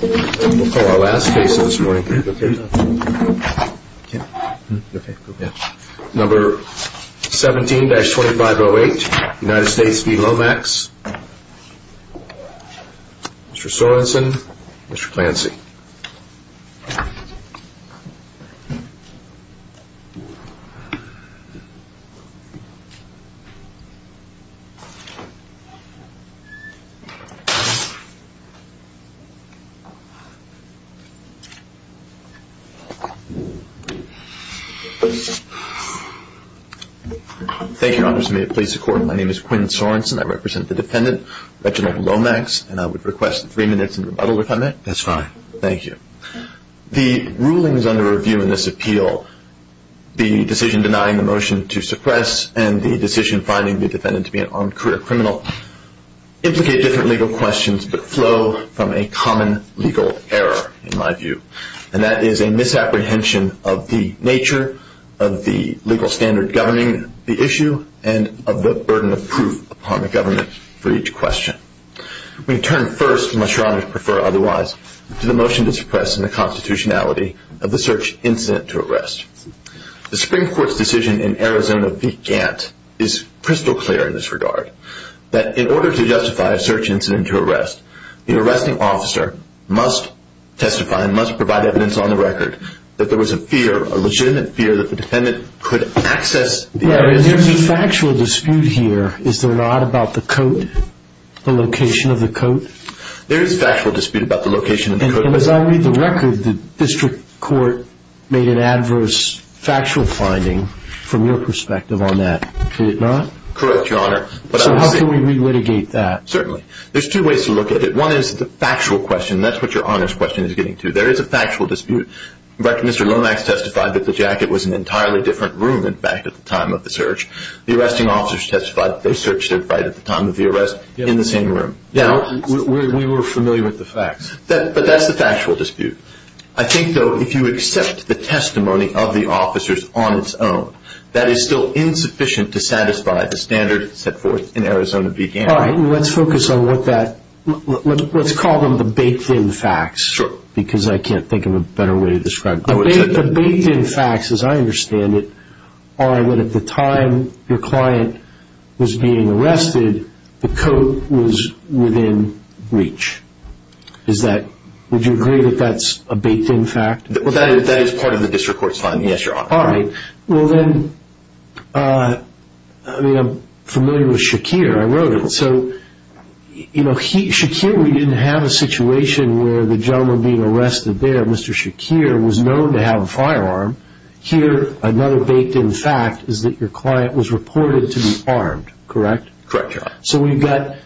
Number 17-2508, United States v. Lomax, Mr. Sorensen, Mr. Clancy. Thank you, Your Honors. May it please the Court, my name is Quinn Sorensen. I represent the defendant, Reginald Lomax, and I would request three minutes in rebuttal if I may. That's fine. Thank you. The rulings under review in this appeal, the decision denying the motion to suppress and the decision finding the defendant to be an armed career criminal implicate different legal questions, but flow from a common legal error, in my view. And that is a misapprehension of the nature of the legal standard governing the issue and of the burden of proof upon the government for each question. We turn first, and my sure honor to prefer otherwise, to the motion to suppress and the constitutionality of the search incident to arrest. The Supreme Court's decision in Arizona v. Gant is crystal clear in this regard, that in order to justify a search incident to arrest, the arresting officer must testify and must provide evidence on the record that there was a fear, a legitimate fear, that the defendant could access the area. There is a factual dispute here, is there not, about the coat, the location of the coat? There is factual dispute about the location of the coat. And as I read the record, the district court made an adverse factual finding from your perspective on that, could it not? Correct, your honor. So how can we re-litigate that? Certainly. There's two ways to look at it. One is the factual question, and that's what your honor's question is getting to. There is a factual dispute. Mr. Lomax testified that the jacket was in an entirely different room, in fact, at the time of the search. The arresting officers testified that they searched it right at the time of the arrest in the same room. Yeah, we were familiar with the facts. But that's the factual dispute. I think, though, if you accept the testimony of the officers on its own, that is still insufficient to satisfy the standard set forth in Arizona v. Gannon. All right, let's focus on what that, let's call them the baked-in facts. Sure. Because I can't think of a better way to describe it. The baked-in facts, as I understand it, are that at the time your client was being arrested, the coat was within reach. Is that, would you agree that that's a baked-in fact? Well, that is part of the district court's finding, yes, your honor. All right. Well, then, I mean, I'm familiar with Shakir. I wrote it. So, you know, Shakir, we didn't have a situation where the gentleman being arrested there, Mr. Shakir, was known to have a firearm. Here, another baked-in fact is that your client was reported to be armed, correct? Correct, your honor. So we've got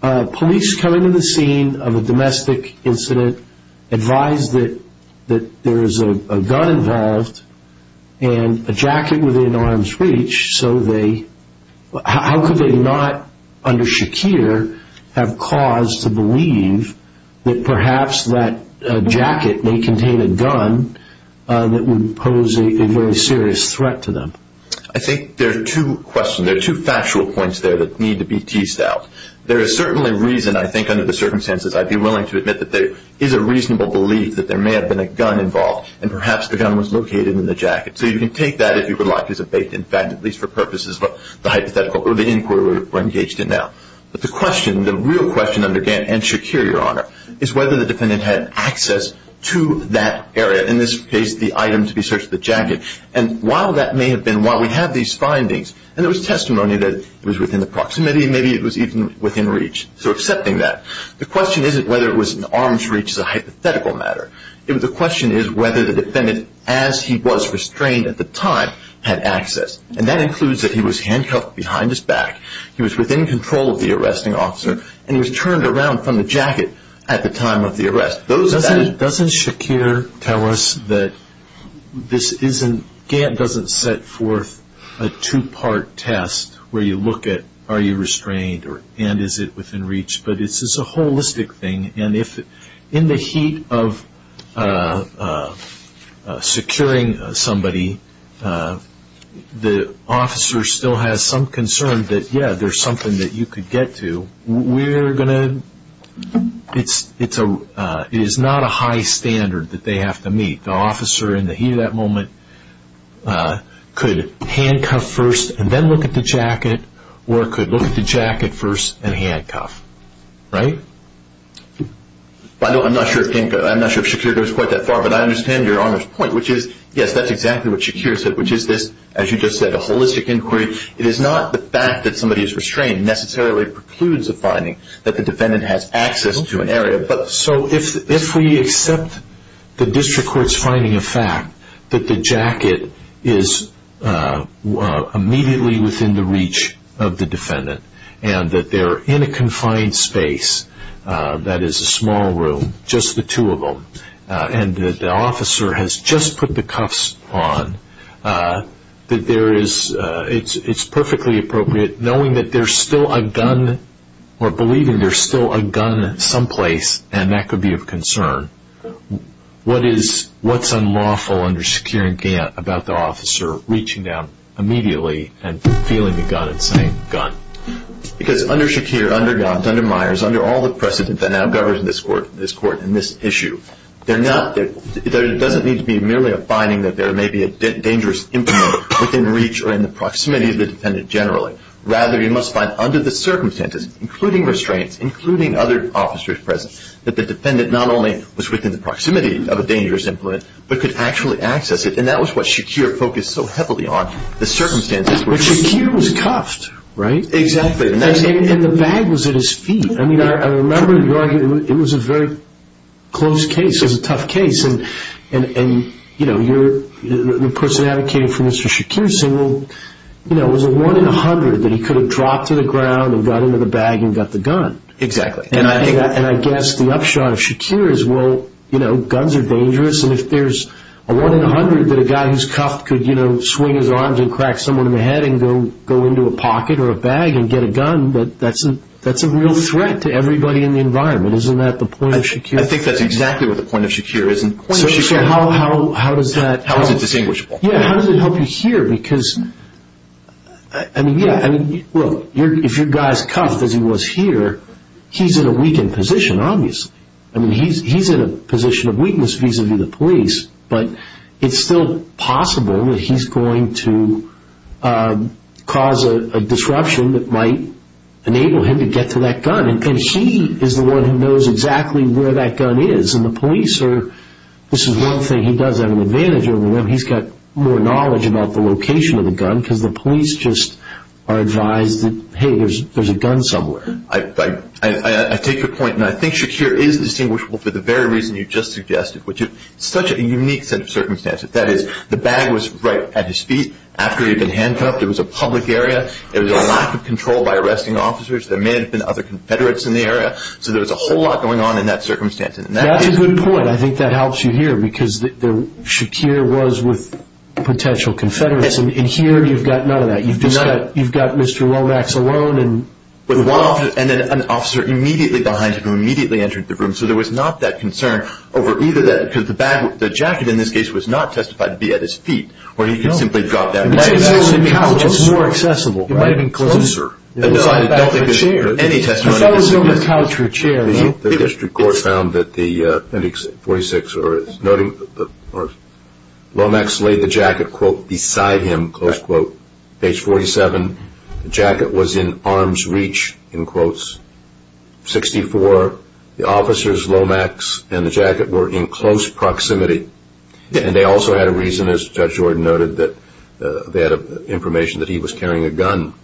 police coming to the scene of a domestic incident, advised that there is a gun involved and a jacket within arm's reach. So they, how could they not, under Shakir, have cause to believe that perhaps that jacket may contain a gun that would pose a very serious threat to them? I think there are two questions, there are two factual points there that need to be teased out. There is certainly reason, I think, under the circumstances, I'd be willing to admit that there is a reasonable belief that there may have been a gun involved and perhaps the gun was located in the jacket. So you can take that, if you would like, as a baked-in fact, at least for purposes of the hypothetical or the inquiry we're engaged in now. But the question, the real question, under Gant and Shakir, your honor, is whether the defendant had access to that area, in this case, the item to be searched, the jacket. And while that may have been, while we have these findings, and there was testimony that it was within the proximity, maybe it was even within reach. So accepting that. The question isn't whether it was in arm's reach as a hypothetical matter. The question is whether the defendant, as he was restrained at the time, had access. And that includes that he was handcuffed behind his back, he was within control of the arresting officer, and he was turned around from the jacket at the time of the arrest. Doesn't Shakir tell us that this isn't, Gant doesn't set forth a two-part test where you look at, are you restrained, and is it within reach? But it's a holistic thing. And if in the heat of securing somebody, the officer still has some concern that, yeah, there's something that you could get to, we're going to, it is not a high standard that they have to meet. The officer in the heat of that moment could handcuff first and then look at the jacket, or could look at the jacket first and handcuff. Right? I'm not sure if Shakir goes quite that far, but I understand your honor's point, which is, yes, that's exactly what Shakir said, which is this, as you just said, a holistic inquiry, it is not the fact that somebody is restrained necessarily precludes a finding that the defendant has access to an area. So if we accept the district court's finding of fact that the jacket is immediately within the reach of the defendant, and that they're in a confined space, that is a small room, just the two of them, and that the officer has just put the cuffs on, that there is, it's perfectly appropriate, knowing that there's still a gun, or believing there's still a gun someplace, and that could be of concern, what is, what's unlawful under Shakir and Gantt about the officer reaching down immediately and feeling the gun and saying, gun? Because under Shakir, under Gantt, under Myers, under all the precedent that now governs this court in this issue, there doesn't need to be merely a finding that there may be a dangerous implement within reach or in the proximity of the defendant generally. Rather, you must find under the circumstances, including restraints, including other officers present, that the defendant not only was within the proximity of a dangerous implement, but could actually access it. And that was what Shakir focused so heavily on, the circumstances. But Shakir was cuffed, right? Exactly. And the bag was at his feet. I mean, I remember your argument. It was a very close case. It was a tough case. And, you know, the person advocating for Mr. Shakir said, well, you know, it was a one in a hundred that he could have dropped to the ground and got into the bag and got the gun. Exactly. And I guess the upshot of Shakir is, well, you know, guns are dangerous. And if there's a one in a hundred that a guy who's cuffed could, you know, swing his arms and crack someone in the head and go into a pocket or a bag and get a gun, that's a real threat. It's a threat to everybody in the environment. Isn't that the point of Shakir? I think that's exactly what the point of Shakir is. How is it distinguishable? Yeah, how does it help you here? Because, I mean, yeah, look, if your guy's cuffed as he was here, he's in a weakened position, obviously. I mean, he's in a position of weakness vis-a-vis the police. But it's still possible that he's going to cause a disruption that might enable him to get to that gun. And he is the one who knows exactly where that gun is. And the police are, this is one thing he does have an advantage over them. He's got more knowledge about the location of the gun because the police just are advised that, hey, there's a gun somewhere. I take your point. And I think Shakir is distinguishable for the very reason you just suggested, which is such a unique set of circumstances. That is, the bag was right at his feet. After he had been handcuffed, it was a public area. There was a lack of control by arresting officers. There may have been other confederates in the area. So there was a whole lot going on in that circumstance. That's a good point. I think that helps you here because Shakir was with potential confederates. And here you've got none of that. You've got Mr. Womack's alone. And an officer immediately behind him immediately entered the room. So there was not that concern over either that. Because the jacket in this case was not testified to be at his feet. Or he could simply drop that. It might have actually been more accessible. It might have been closer. I don't think there was any testimony. I thought it was going to be a couch or a chair. The district court found that Lomax laid the jacket, quote, beside him, close quote. Page 47. The jacket was in arm's reach, in quotes. 64. The officers, Lomax and the jacket, were in close proximity. And they also had a reason, as Judge Jordan noted, that they had information that he was carrying a gun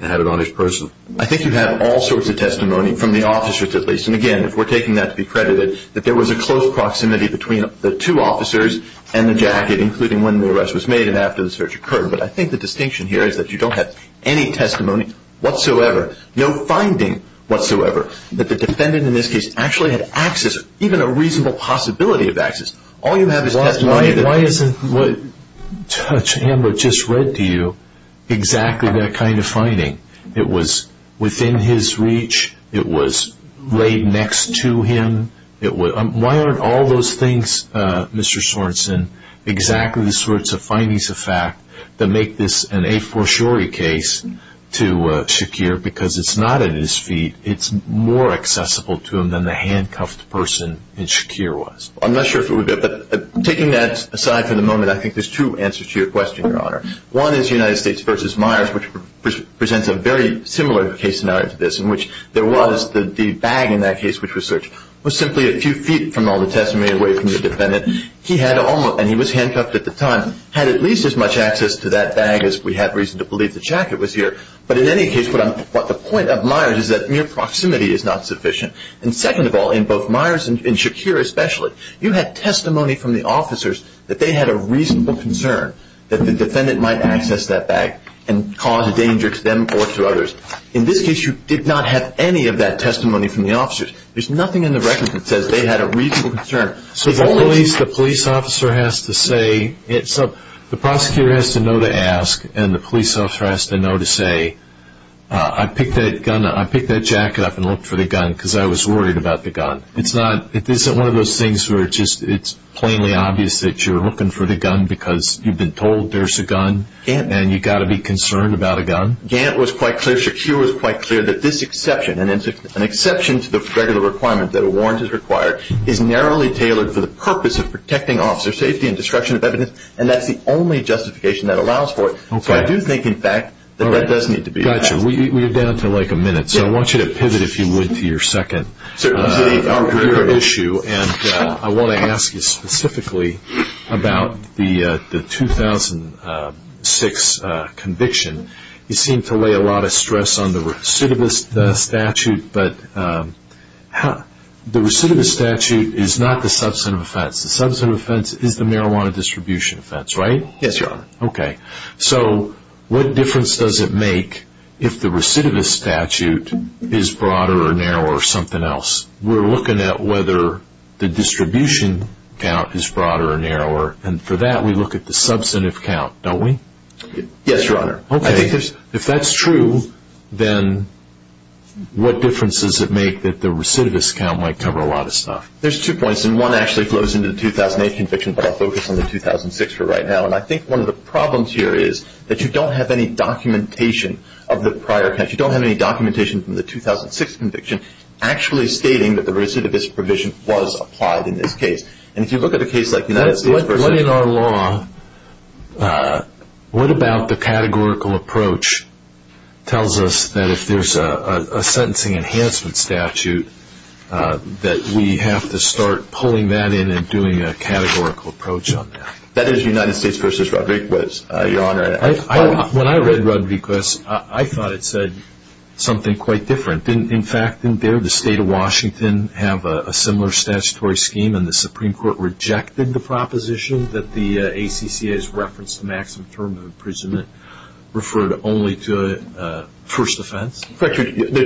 and had it on his person. I think you had all sorts of testimony, from the officers at least. And again, if we're taking that to be credited, that there was a close proximity between the two officers and the jacket, including when the arrest was made and after the search occurred. But I think the distinction here is that you don't have any testimony whatsoever, no finding whatsoever, that the defendant in this case actually had access, even a reasonable possibility of access. All you have is testimony. Why isn't what Judge Amber just read to you exactly that kind of finding? It was within his reach. It was laid next to him. Why aren't all those things, Mr. Sorensen, exactly the sorts of findings of fact that make this an a fortiori case to Shakir? Because it's not at his feet. It's more accessible to him than the handcuffed person in Shakir was. I'm not sure if it would be. But taking that aside for the moment, I think there's two answers to your question, Your Honor. One is United States v. Myers, which presents a very similar case scenario to this, in which there was the bag in that case which was searched was simply a few feet from all the testimony away from the defendant. He had almost, and he was handcuffed at the time, had at least as much access to that bag as we have reason to believe the jacket was here. But in any case, the point of Myers is that mere proximity is not sufficient. And second of all, in both Myers and Shakir especially, you had testimony from the officers that they had a reasonable concern that the defendant might access that bag and cause a danger to them or to others. In this case, you did not have any of that testimony from the officers. There's nothing in the record that says they had a reasonable concern. So the police officer has to say, the prosecutor has to know to ask, and the police officer has to know to say, I picked that jacket up and looked for the gun because I was worried about the gun. It's one of those things where it's plainly obvious that you're looking for the gun because you've been told there's a gun and you've got to be concerned about a gun. Gant was quite clear, Shakir was quite clear that this exception, an exception to the regular requirement that a warrant is required, is narrowly tailored for the purpose of protecting officer safety and destruction of evidence, and that's the only justification that allows for it. So I do think, in fact, that that does need to be addressed. We're down to like a minute, so I want you to pivot, if you would, to your second issue, and I want to ask you specifically about the 2006 conviction. You seem to lay a lot of stress on the recidivist statute, but the recidivist statute is not the substantive offense. The substantive offense is the marijuana distribution offense, right? Yes, Your Honor. Okay, so what difference does it make if the recidivist statute is broader or narrower or something else? We're looking at whether the distribution count is broader or narrower, and for that we look at the substantive count, don't we? Yes, Your Honor. Okay, if that's true, then what difference does it make that the recidivist count might cover a lot of stuff? There's two points, and one actually flows into the 2008 conviction, but I'll focus on the 2006 for right now, and I think one of the problems here is that you don't have any documentation of the prior, you don't have any documentation from the 2006 conviction actually stating that the recidivist provision was applied in this case. And if you look at a case like United States versus- What in our law, what about the categorical approach tells us that if there's a sentencing enhancement statute that we have to start pulling that in and doing a categorical approach on that? That is United States versus Rodriguez, Your Honor. When I read Rodriguez, I thought it said something quite different. In fact, didn't the state of Washington have a similar statutory scheme and the Supreme Court rejected the proposition that the ACCA's reference to maximum term of imprisonment referred only to first offense? There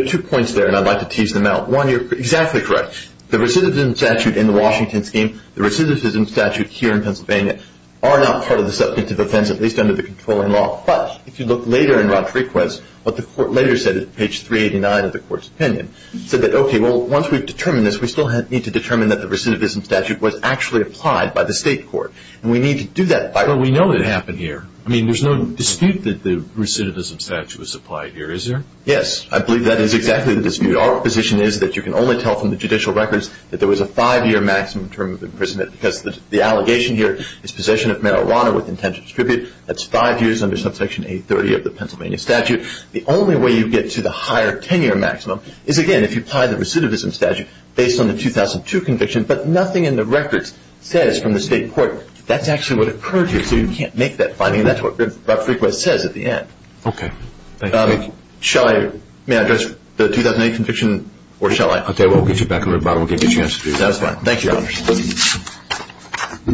are two points there, and I'd like to tease them out. One, you're exactly correct. The recidivism statute in the Washington scheme, the recidivism statute here in Pennsylvania, are not part of the substantive offense, at least under the controlling law. But if you look later in Rodriguez, what the court later said at page 389 of the court's opinion, said that, okay, well, once we've determined this, we still need to determine that the recidivism statute was actually applied by the state court. And we need to do that by- But we know it happened here. I mean, there's no dispute that the recidivism statute was applied here, is there? Yes, I believe that is exactly the dispute. Our position is that you can only tell from the judicial records that there was a five-year maximum term of imprisonment because the allegation here is possession of marijuana with intent to distribute. That's five years under subsection 830 of the Pennsylvania statute. The only way you get to the higher 10-year maximum is, again, if you apply the recidivism statute based on the 2002 conviction, but nothing in the records says from the state court that that's actually what occurred here. So you can't make that finding, and that's what Rob Frequest says at the end. Okay. Thank you. Shall I- May I address the 2008 conviction, or shall I- Okay, we'll get you back on the rebuttal. We'll give you a chance to do that. That's fine. Thank you, Your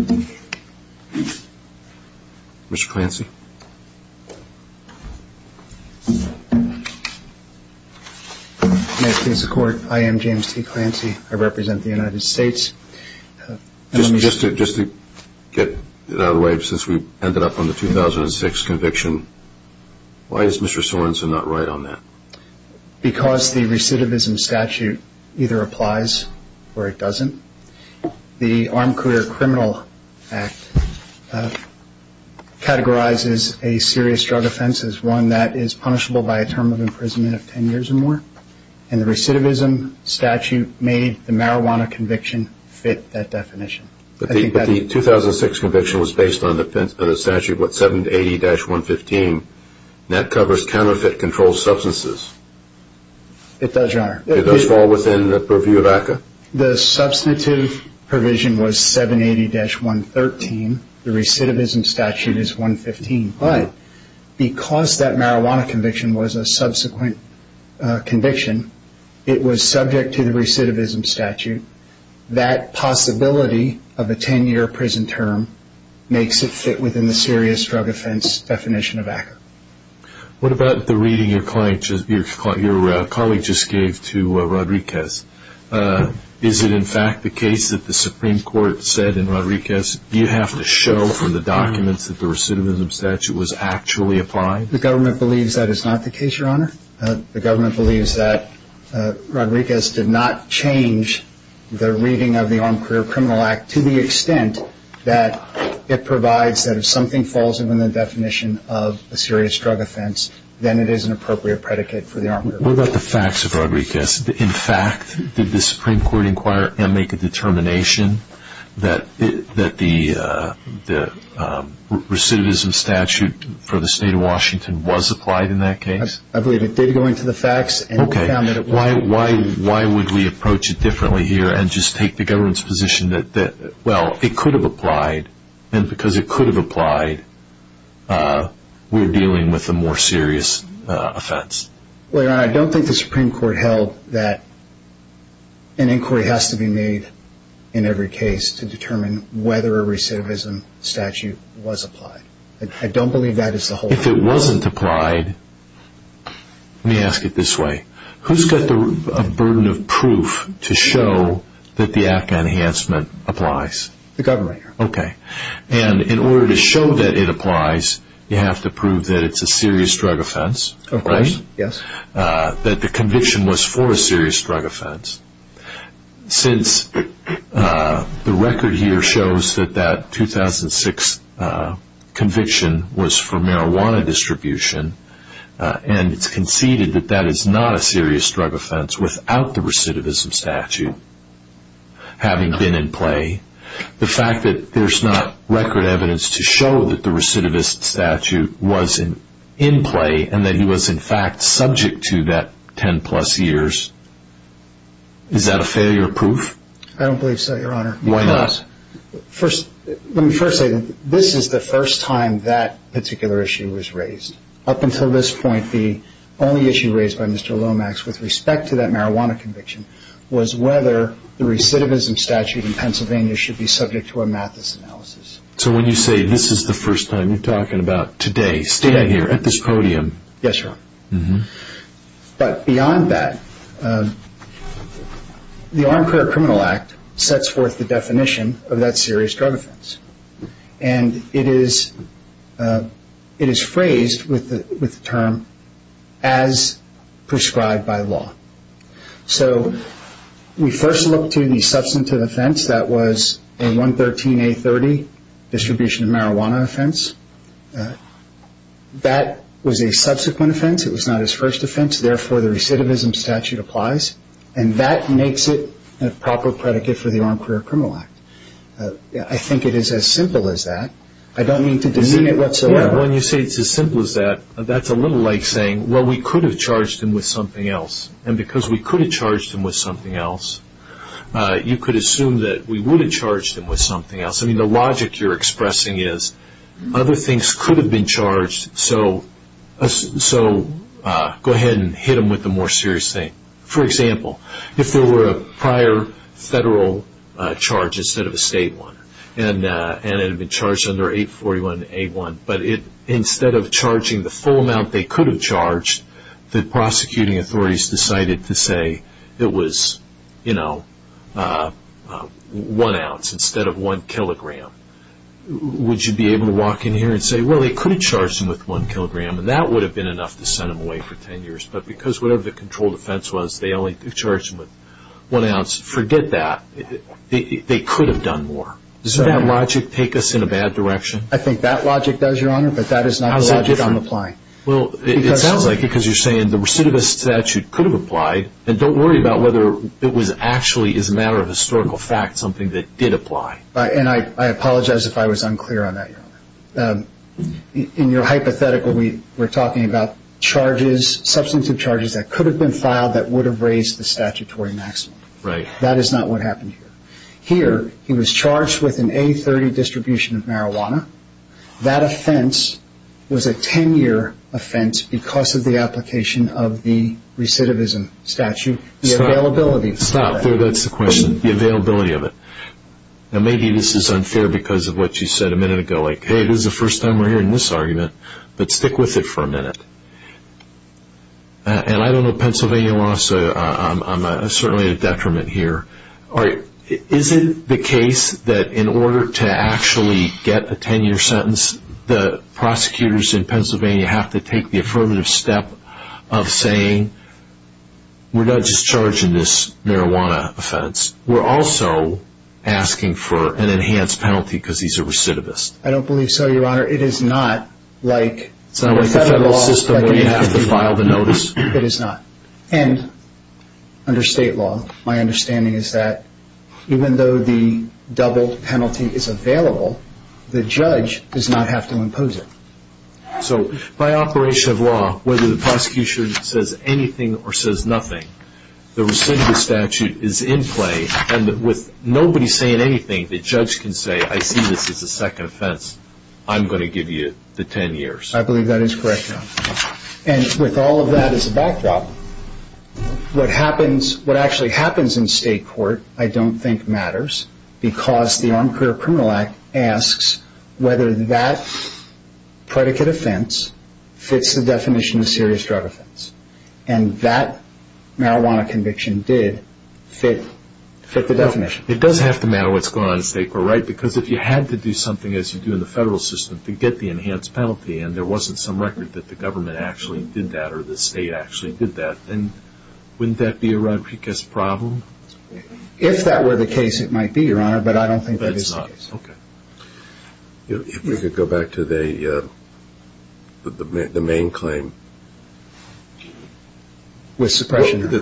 Honor. Mr. Clancy? May it please the Court, I am James T. Clancy. I represent the United States. Just to get it out of the way, since we ended up on the 2006 conviction, why is Mr. Sorensen not right on that? Because the recidivism statute either applies or it doesn't. The Armed Career Criminal Act categorizes a serious drug offense as one that is punishable by a term of imprisonment of 10 years or more, and the recidivism statute made the marijuana conviction fit that definition. But the 2006 conviction was based on the statute 780-115, and that covers counterfeit controlled substances. It does, Your Honor. It does fall within the purview of ACCA? The substantive provision was 780-113. The recidivism statute is 115. But because that marijuana conviction was a subsequent conviction, it was subject to the recidivism statute. That possibility of a 10-year prison term makes it fit within the serious drug offense definition of ACCA. What about the reading your colleague just gave to Rodriguez? Is it in fact the case that the Supreme Court said in Rodriguez, do you have to show for the documents that the recidivism statute was actually applied? The government believes that Rodriguez did not change the reading of the Armed Career Criminal Act to the extent that it provides that if something falls within the definition of a serious drug offense, then it is an appropriate predicate for the Armed Career Criminal Act. What about the facts of Rodriguez? In fact, did the Supreme Court inquire and make a determination that the recidivism statute for the state of Washington was applied in that case? I believe it did go into the facts. Why would we approach it differently here and just take the government's position that, well, it could have applied and because it could have applied, we're dealing with a more serious offense? I don't think the Supreme Court held that an inquiry has to be made in every case to determine whether a recidivism statute was applied. I don't believe that is the whole point. If it wasn't applied, let me ask it this way. Who's got the burden of proof to show that the ACCA enhancement applies? The government. Okay. And in order to show that it applies, you have to prove that it's a serious drug offense? Of course, yes. That the conviction was for a serious drug offense. Since the record here shows that that 2006 conviction was for marijuana distribution and it's conceded that that is not a serious drug offense without the recidivism statute having been in play, the fact that there's not record evidence to show that the recidivist statute was in play and that he was in fact subject to that 10 plus years, is that a failure proof? I don't believe so, Your Honor. Why not? First, let me first say that this is the first time that particular issue was raised. Up until this point, the only issue raised by Mr. Lomax with respect to that marijuana conviction was whether the recidivism statute in Pennsylvania should be subject to a Mathis analysis. So when you say this is the first time, you're talking about today, standing here at this podium. Yes, Your Honor. But beyond that, the Armed Career Criminal Act sets forth the definition of that serious drug offense. And it is phrased with the term, as prescribed by law. So we first look to the substantive offense that was a 113A30 distribution of marijuana offense. That was a subsequent offense. It was not his first offense. Therefore, the recidivism statute applies. And that makes it a proper predicate for the Armed Career Criminal Act. I think it is as simple as that. I don't mean to demean it whatsoever. When you say it's as simple as that, that's a little like saying, well, we could have charged him with something else. And because we could have charged him with something else, you could assume that we would have charged him with something else. I mean, the logic you're expressing is, other things could have been charged, so go ahead and hit him with the more serious thing. For example, if there were a prior federal charge instead of a state one, and it had been charged under 841A1, but instead of charging the full amount they could have charged, the prosecuting authorities decided to say it was one ounce instead of one kilogram, would you be able to walk in here and say, well, they could have charged him with one kilogram, and that would have been enough to send him away for 10 years. But because whatever the controlled offense was, they only charged him with one ounce, forget that. They could have done more. Doesn't that logic take us in a bad direction? I think that logic does, Your Honor, but that is not the logic I'm applying. Well, it sounds like because you're saying the recidivist statute could have applied, and don't worry about whether it was actually, as a matter of historical fact, something that did apply. And I apologize if I was unclear on that, Your Honor. In your hypothetical, we're talking about charges, substantive charges that could have been filed that would have raised the statutory maximum. That is not what happened here. Here, he was charged with an A30 distribution of marijuana. That offense was a 10-year offense because of the application of the recidivism statute. Stop. That's the question. The availability of it. Now, maybe this is unfair because of what you said a minute ago, like, hey, this is the first time we're hearing this argument, but stick with it for a minute. And I don't know Pennsylvania law, so I'm certainly a detriment here. All right. Is it the case that in order to actually get a 10-year sentence, the prosecutors in Pennsylvania have to take the affirmative step of saying, we're not just charging this marijuana offense. We're also asking for an enhanced penalty because he's a recidivist. I don't believe so, Your Honor. It is not like the federal system where you have to file the notice. It is not. And under state law, my understanding is that even though the double penalty is available, the judge does not have to impose it. So by operation of law, whether the prosecution says anything or says nothing, the recidivist statute is in play. And with nobody saying anything, the judge can say, I see this as a second offense. I'm going to give you the 10 years. I believe that is correct, Your Honor. And with all of that as a backdrop, what actually happens in state court I don't think matters because the Armed Career Criminal Act asks whether that predicate offense fits the definition of serious drug offense. And that marijuana conviction did fit the definition. It does have to matter what's going on in state court, right? Because if you had to do something, as you do in the federal system, to get the enhanced penalty and there wasn't some record that the government actually did that or the state actually did that, then wouldn't that be a Rodriguez problem? If that were the case, it might be, Your Honor. But I don't think that is the case. But it's not. Okay. If we could go back to the main claim. With suppression? Where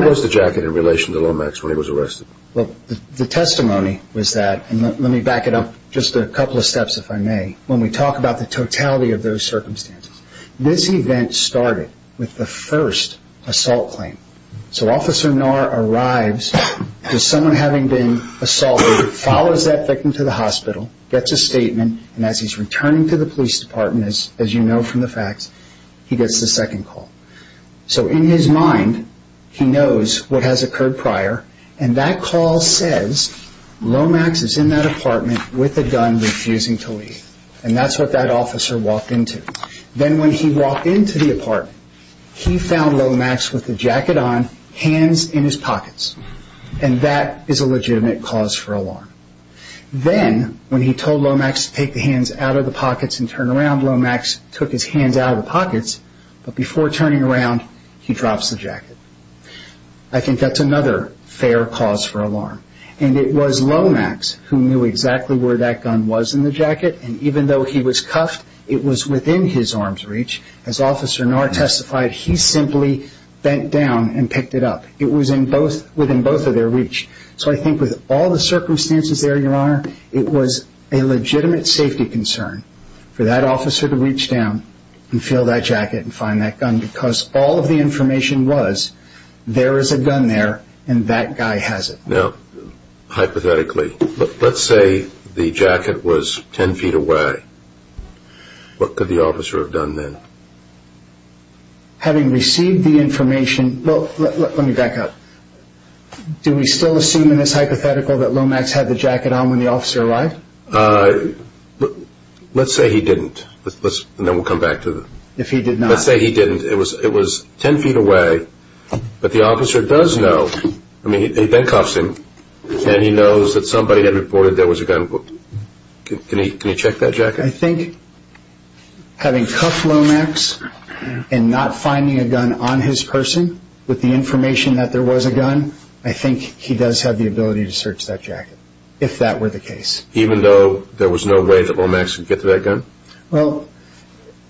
was the jacket in relation to Lomax when he was arrested? Well, the testimony was that, and let me back it up just a couple of steps if I may, when we talk about the totality of those circumstances. This event started with the first assault claim. So Officer Naur arrives with someone having been assaulted, follows that victim to the hospital, gets a statement, and as he's returning to the police department, as you know from the facts, he gets the second call. So in his mind, he knows what has occurred prior, and that call says Lomax is in that apartment with a gun, refusing to leave. And that's what that officer walked into. Then when he walked into the apartment, he found Lomax with a jacket on, hands in his pockets. And that is a legitimate cause for alarm. Then, when he told Lomax to take the hands out of the pockets and turn around, Lomax took his hands out of the pockets, but before turning around, he drops the jacket. I think that's another fair cause for alarm. And it was Lomax who knew exactly where that gun was in the jacket, and even though he was cuffed, it was within his arms' reach. As Officer Naur testified, he simply bent down and picked it up. It was within both of their reach. So I think with all the circumstances there, Your Honor, it was a legitimate safety concern for that officer to reach down and feel that jacket and find that gun, because all of the information was, there is a gun there, and that guy has it. Now, hypothetically, let's say the jacket was 10 feet away. What could the officer have done then? Having received the information... Well, let me back up. Do we still assume in this hypothetical that Lomax had the jacket on when the officer arrived? Let's say he didn't, and then we'll come back to the... Let's say he didn't. It was 10 feet away, but the officer does know. I mean, he then cuffs him, and he knows that somebody had reported there was a gun. Can he check that jacket? I think having cuffed Lomax and not finding a gun on his person with the information that there was a gun, I think he does have the ability to search that jacket, if that were the case. Even though there was no way that Lomax could get to that gun? Well,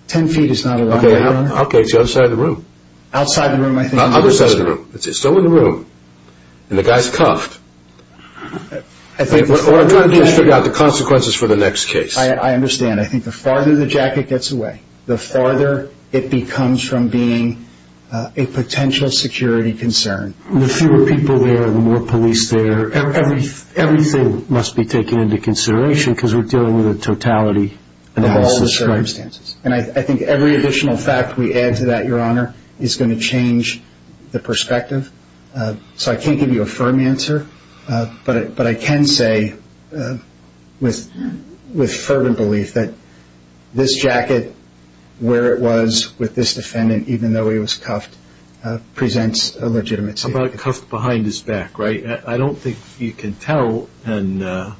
10 feet is not a lot, Your Honor. Okay, it's the other side of the room. Outside the room, I think. Other side of the room. It's still in the room, and the guy's cuffed. What I'm trying to do is figure out the consequences for the next case. I understand. I think the farther the jacket gets away, the farther it becomes from being a potential security concern. The fewer people there, the more police there, everything must be taken into consideration because we're dealing with a totality in all the circumstances. I think every additional fact we add to that, Your Honor, is going to change the perspective. So I can't give you a firm answer, but I can say with fervent belief that this jacket, where it was with this defendant, even though he was cuffed, presents a legitimate safety concern. How about cuffed behind his back, right? I don't think you can tell, and I've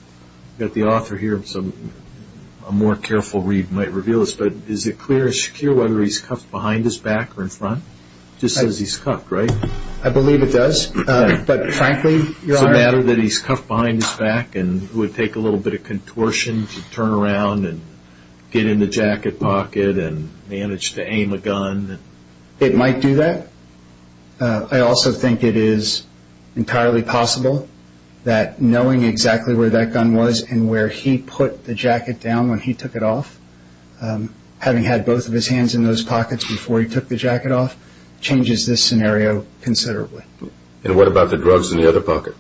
got the author here, so a more careful read might reveal this, but is it clear as secure whether he's cuffed behind his back or in front? It just says he's cuffed, right? I believe it does, but frankly, Your Honor... Does it matter that he's cuffed behind his back and it would take a little bit of contortion to turn around and get in the jacket pocket and manage to aim a gun? It might do that. I also think it is entirely possible that knowing exactly where that gun was and where he put the jacket down when he took it off, having had both of his hands in those pockets before he took the jacket off, changes this scenario considerably. And what about the drugs in the other pocket?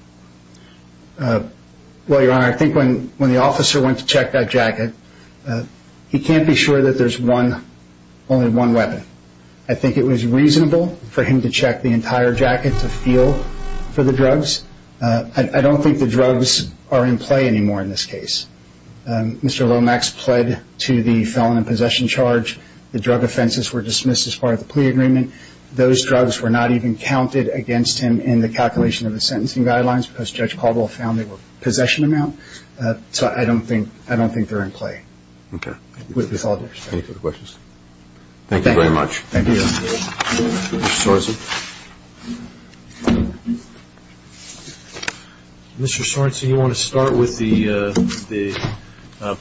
Well, Your Honor, I think when the officer went to check that jacket, he can't be sure that there's only one weapon. I think it was reasonable for him to check the entire jacket to feel for the drugs. I don't think the drugs are in play anymore in this case. Mr. Lomax pled to the felon in possession charge. The drug offenses were dismissed as part of the plea agreement. Those drugs were not even counted against him in the calculation of the sentencing guidelines because Judge Caldwell found they were possession amount. So I don't think they're in play. Any further questions? Thank you very much. Mr. Sorensen, you want to start with the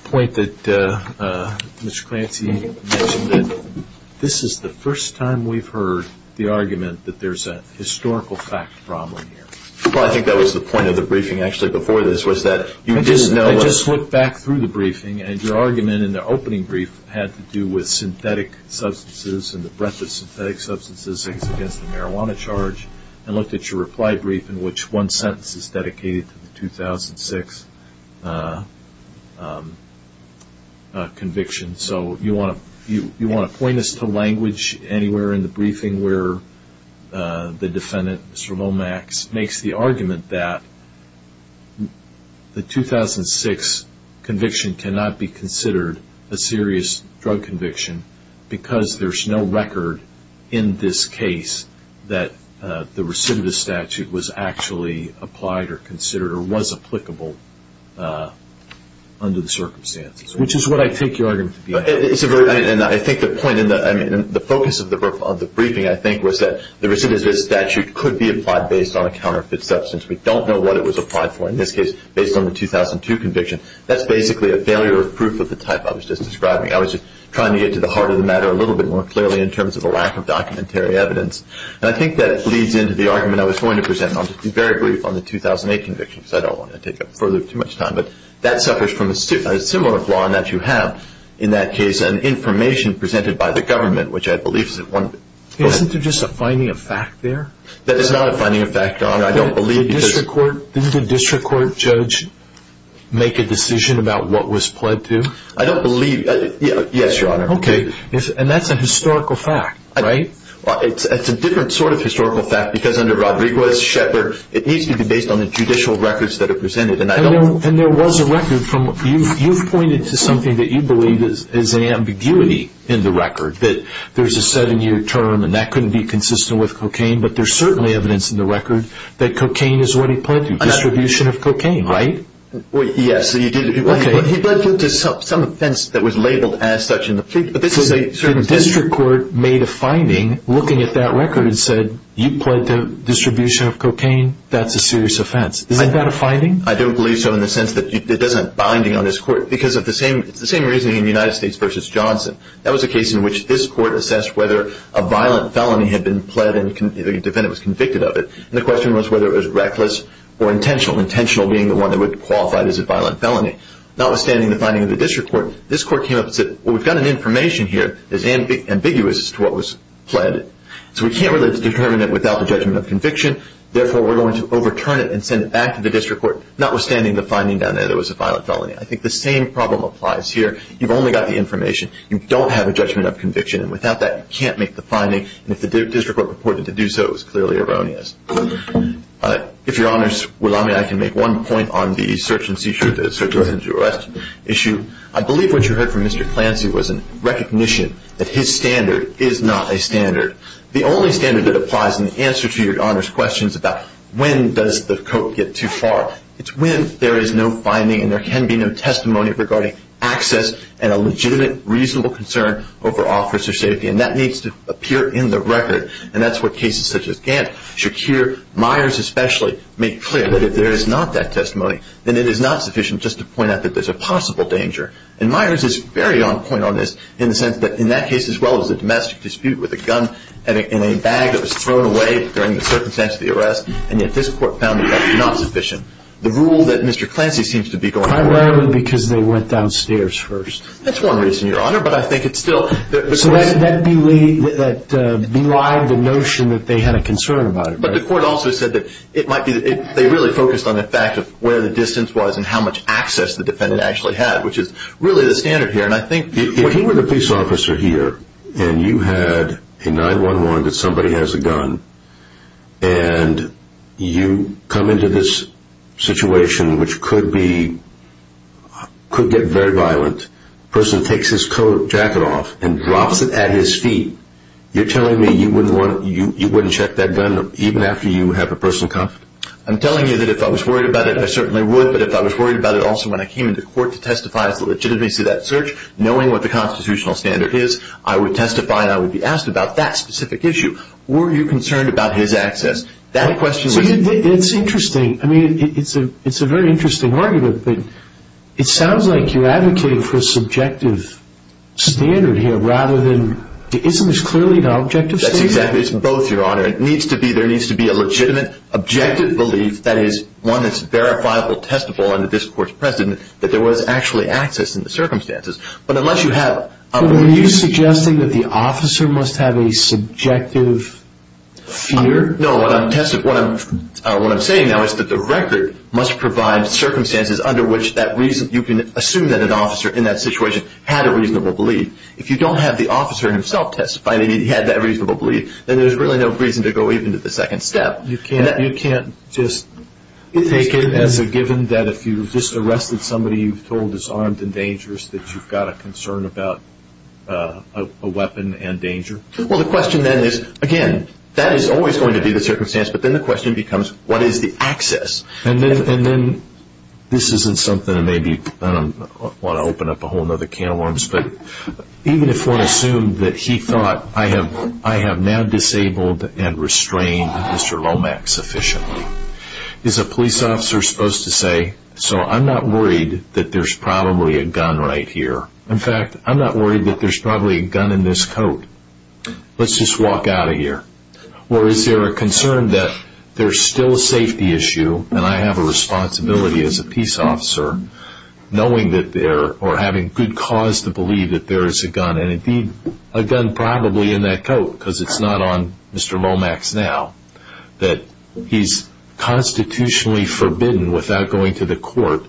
point that Mr. Clancy mentioned that this is the first time we've heard the argument that there's a historical fact problem here. Well, I think that was the point of the briefing actually before this I just looked back through the briefing and your argument in the opening brief had to do with synthetic substances and the breadth of synthetic substances against the marijuana charge. I looked at your reply brief in which one sentence is dedicated to the 2006 conviction. So you want to point us to language anywhere in the briefing where the defendant, Mr. Lomax, makes the argument that the 2006 conviction cannot be considered a serious drug conviction because there's no record in this case that the recidivist statute was actually applied or considered or was applicable under the circumstances. Which is what I take your argument to be. The focus of the briefing, I think, was that the recidivist statute could be applied based on a counterfeit substance. We don't know what it was applied for, in this case, based on the 2002 conviction. That's basically a failure of proof of the type I was just describing. I was just trying to get to the heart of the matter a little bit more clearly in terms of the lack of documentary evidence. And I think that leads into the argument I was going to present on the 2008 conviction because I don't want to take up further too much time. But that suffers from a similar flaw in that you have in that case an information presented by the government which I believe is at one... Isn't there just a finding of fact there? That is not a finding of fact, Your Honor. Didn't the district court judge make a decision about what was pled to? Yes, Your Honor. And that's a historical fact, right? It's a different sort of historical fact because under Rodriguez, Shepard, it needs to be based on the judicial records that are presented. And there was a record from... You've pointed to something that you believe is an ambiguity in the record that there's a 7-year term and that couldn't be consistent with cocaine but there's certainly evidence in the record that cocaine is what he pled to. Distribution of cocaine, right? Yes, he pled to some offense that was labeled as such in the plea. So the district court made a finding looking at that record and said you pled to distribution of cocaine, that's a serious offense. Is that a finding? I don't believe so in the sense that it doesn't have a binding on this court because it's the same reasoning in United States v. Johnson. That was a case in which this court assessed whether a violent felony had been pled and the defendant was convicted of it. And the question was whether it was reckless or intentional. Intentional being the one that would qualify it as a violent felony. Notwithstanding the finding of the district court, this court came up and said we've got an information here that's ambiguous as to what was pled. So we can't really determine it without the judgment of conviction therefore we're going to overturn it and send it back to the district court notwithstanding the finding down there that it was a violent felony. I think the same problem applies here. You've only got the information. You don't have a judgment of conviction and without that you can't make the finding and if the district court purported to do so it was clearly erroneous. If your honors would allow me I can make one point on the search and seizure issue. I believe what you heard from Mr. Clancy was a recognition that his standard is not a standard. The only standard that applies in the answer to your honors questions about when does the court get too far it's when there is no finding and there can be no testimony regarding access and a legitimate reasonable concern over officer safety and that needs to appear in the record and that's what cases such as Gant, Shakir, Myers especially make clear that if there is not that testimony then it is not sufficient just to point out that there is a possible danger and Myers is very on point on this in the sense that in that case as well it was a domestic dispute with a gun in a bag that was thrown away during the circumstance of the arrest and yet this court found that that was not sufficient. The rule that Mr. Clancy seems to be going on... Primarily because they went downstairs first. That's one reason your honor but I think it's still... So that belied the notion that they had a concern about it. But the court also said that it might be they really focused on the fact of where the distance was and how much access the defendant actually had which is really the standard here and I think... If you were the police officer here and you had a 911 that somebody has a gun and you come into this situation which could get very violent the person takes his coat jacket off and drops it at his feet, you're telling me you wouldn't check that gun even after you have a person cuffed? I'm telling you that if I was worried about it I certainly would but if I was worried about it also when I came into court to testify as to the legitimacy of that search, knowing what the constitutional standard is I would testify and I would be asked about that specific issue. Were you concerned about his access? It's interesting. It's a very interesting argument but it sounds like you're advocating for a subjective standard here rather than, isn't this clearly an objective standard? Exactly, it's both your honor. There needs to be a legitimate, objective belief that is one that's verifiable, testable in the discourse present that there was actually access in the circumstances but unless you have... Are you suggesting that the officer must have a subjective fear? No, what I'm saying now is that the record must provide circumstances under which you can assume that an officer in that situation had a reasonable belief if you don't have the officer himself testifying and he had that reasonable belief then there's really no reason to go even to the second step. You can't just take it as a given that if you just arrested somebody you've told is armed and dangerous that you've got a concern about a weapon and danger? Well, the question then is again, that is always going to be the circumstance but then the question becomes, what is the access? And then this isn't something that maybe I don't want to open up a whole other can of worms but even if one assumed that he thought I have now disabled and restrained Mr. Lomax sufficiently is a police officer supposed to say so I'm not worried that there's probably a gun right here in fact, I'm not worried that there's probably a gun in this coat let's just walk out of here or is there a concern that there's still a safety issue and I have a responsibility as a peace officer knowing that there... or having good cause to believe that there is a gun and indeed a gun probably in that coat because it's not on Mr. Lomax now that he's constitutionally forbidden without going to the court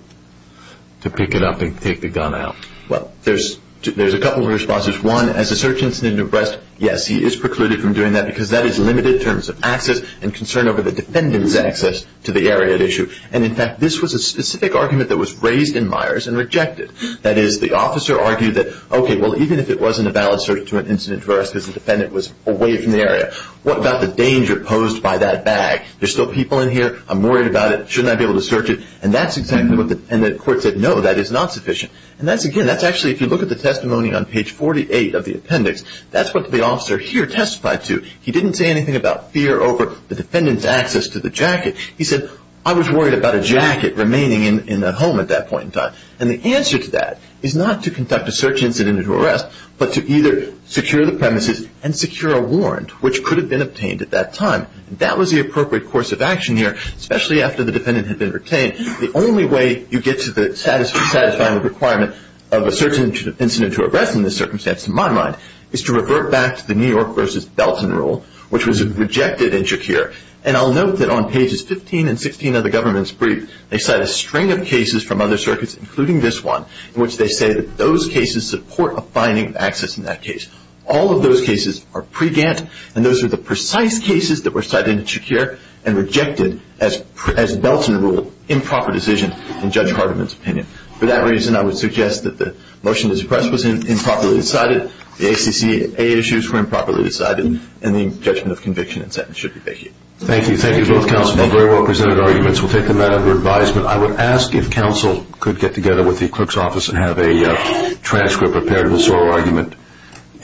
to pick it up and take the gun out. Well, there's a couple of responses. One, as a search incident of arrest, yes, he is precluded from doing that because that is limited in terms of access and concern over the defendant's access to the area at issue and in fact, this was a specific argument that was raised in Myers and rejected that is, the officer argued that, ok, well even if it wasn't a valid search to an incident of arrest because the defendant was away from the area what about the danger posed by that bag there's still people in here, I'm worried about it, shouldn't I be able to search it and that's exactly what the... and the court said no, that is not sufficient and that's again, that's actually, if you look at the testimony on page 48 of the appendix, that's what the officer here testified to he didn't say anything about fear over the defendant's access to the jacket he said, I was worried about a jacket remaining in the home at that point in time and the answer to that is not to conduct a search incident of arrest but to either secure the premises and secure a warrant which could have been obtained at that time and that was the appropriate course of action here especially after the defendant had been retained the only way you get to satisfying the requirement of a search incident of arrest in this circumstance in my mind is to revert back to the New York v. Belton rule which was rejected in Shakir and I'll note that on pages 15 and 16 of the government's brief they cite a string of cases from other circuits, including this one in which they say that those cases support a finding of access in that case all of those cases are pre-Gant and those are the precise cases that were cited in Shakir and rejected as Belton rule, improper decision in Judge Hardiman's opinion for that reason I would suggest that the motion to suppress was improperly decided the ACCA issues were improperly decided and the judgment of conviction and sentence should be vacated thank you both counsel, very well presented arguments we'll take them out of your advisement I would ask if counsel could get together with the clerk's office and have a transcript, a parables oral argument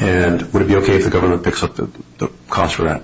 and would it be okay if the government picks up the cost for that?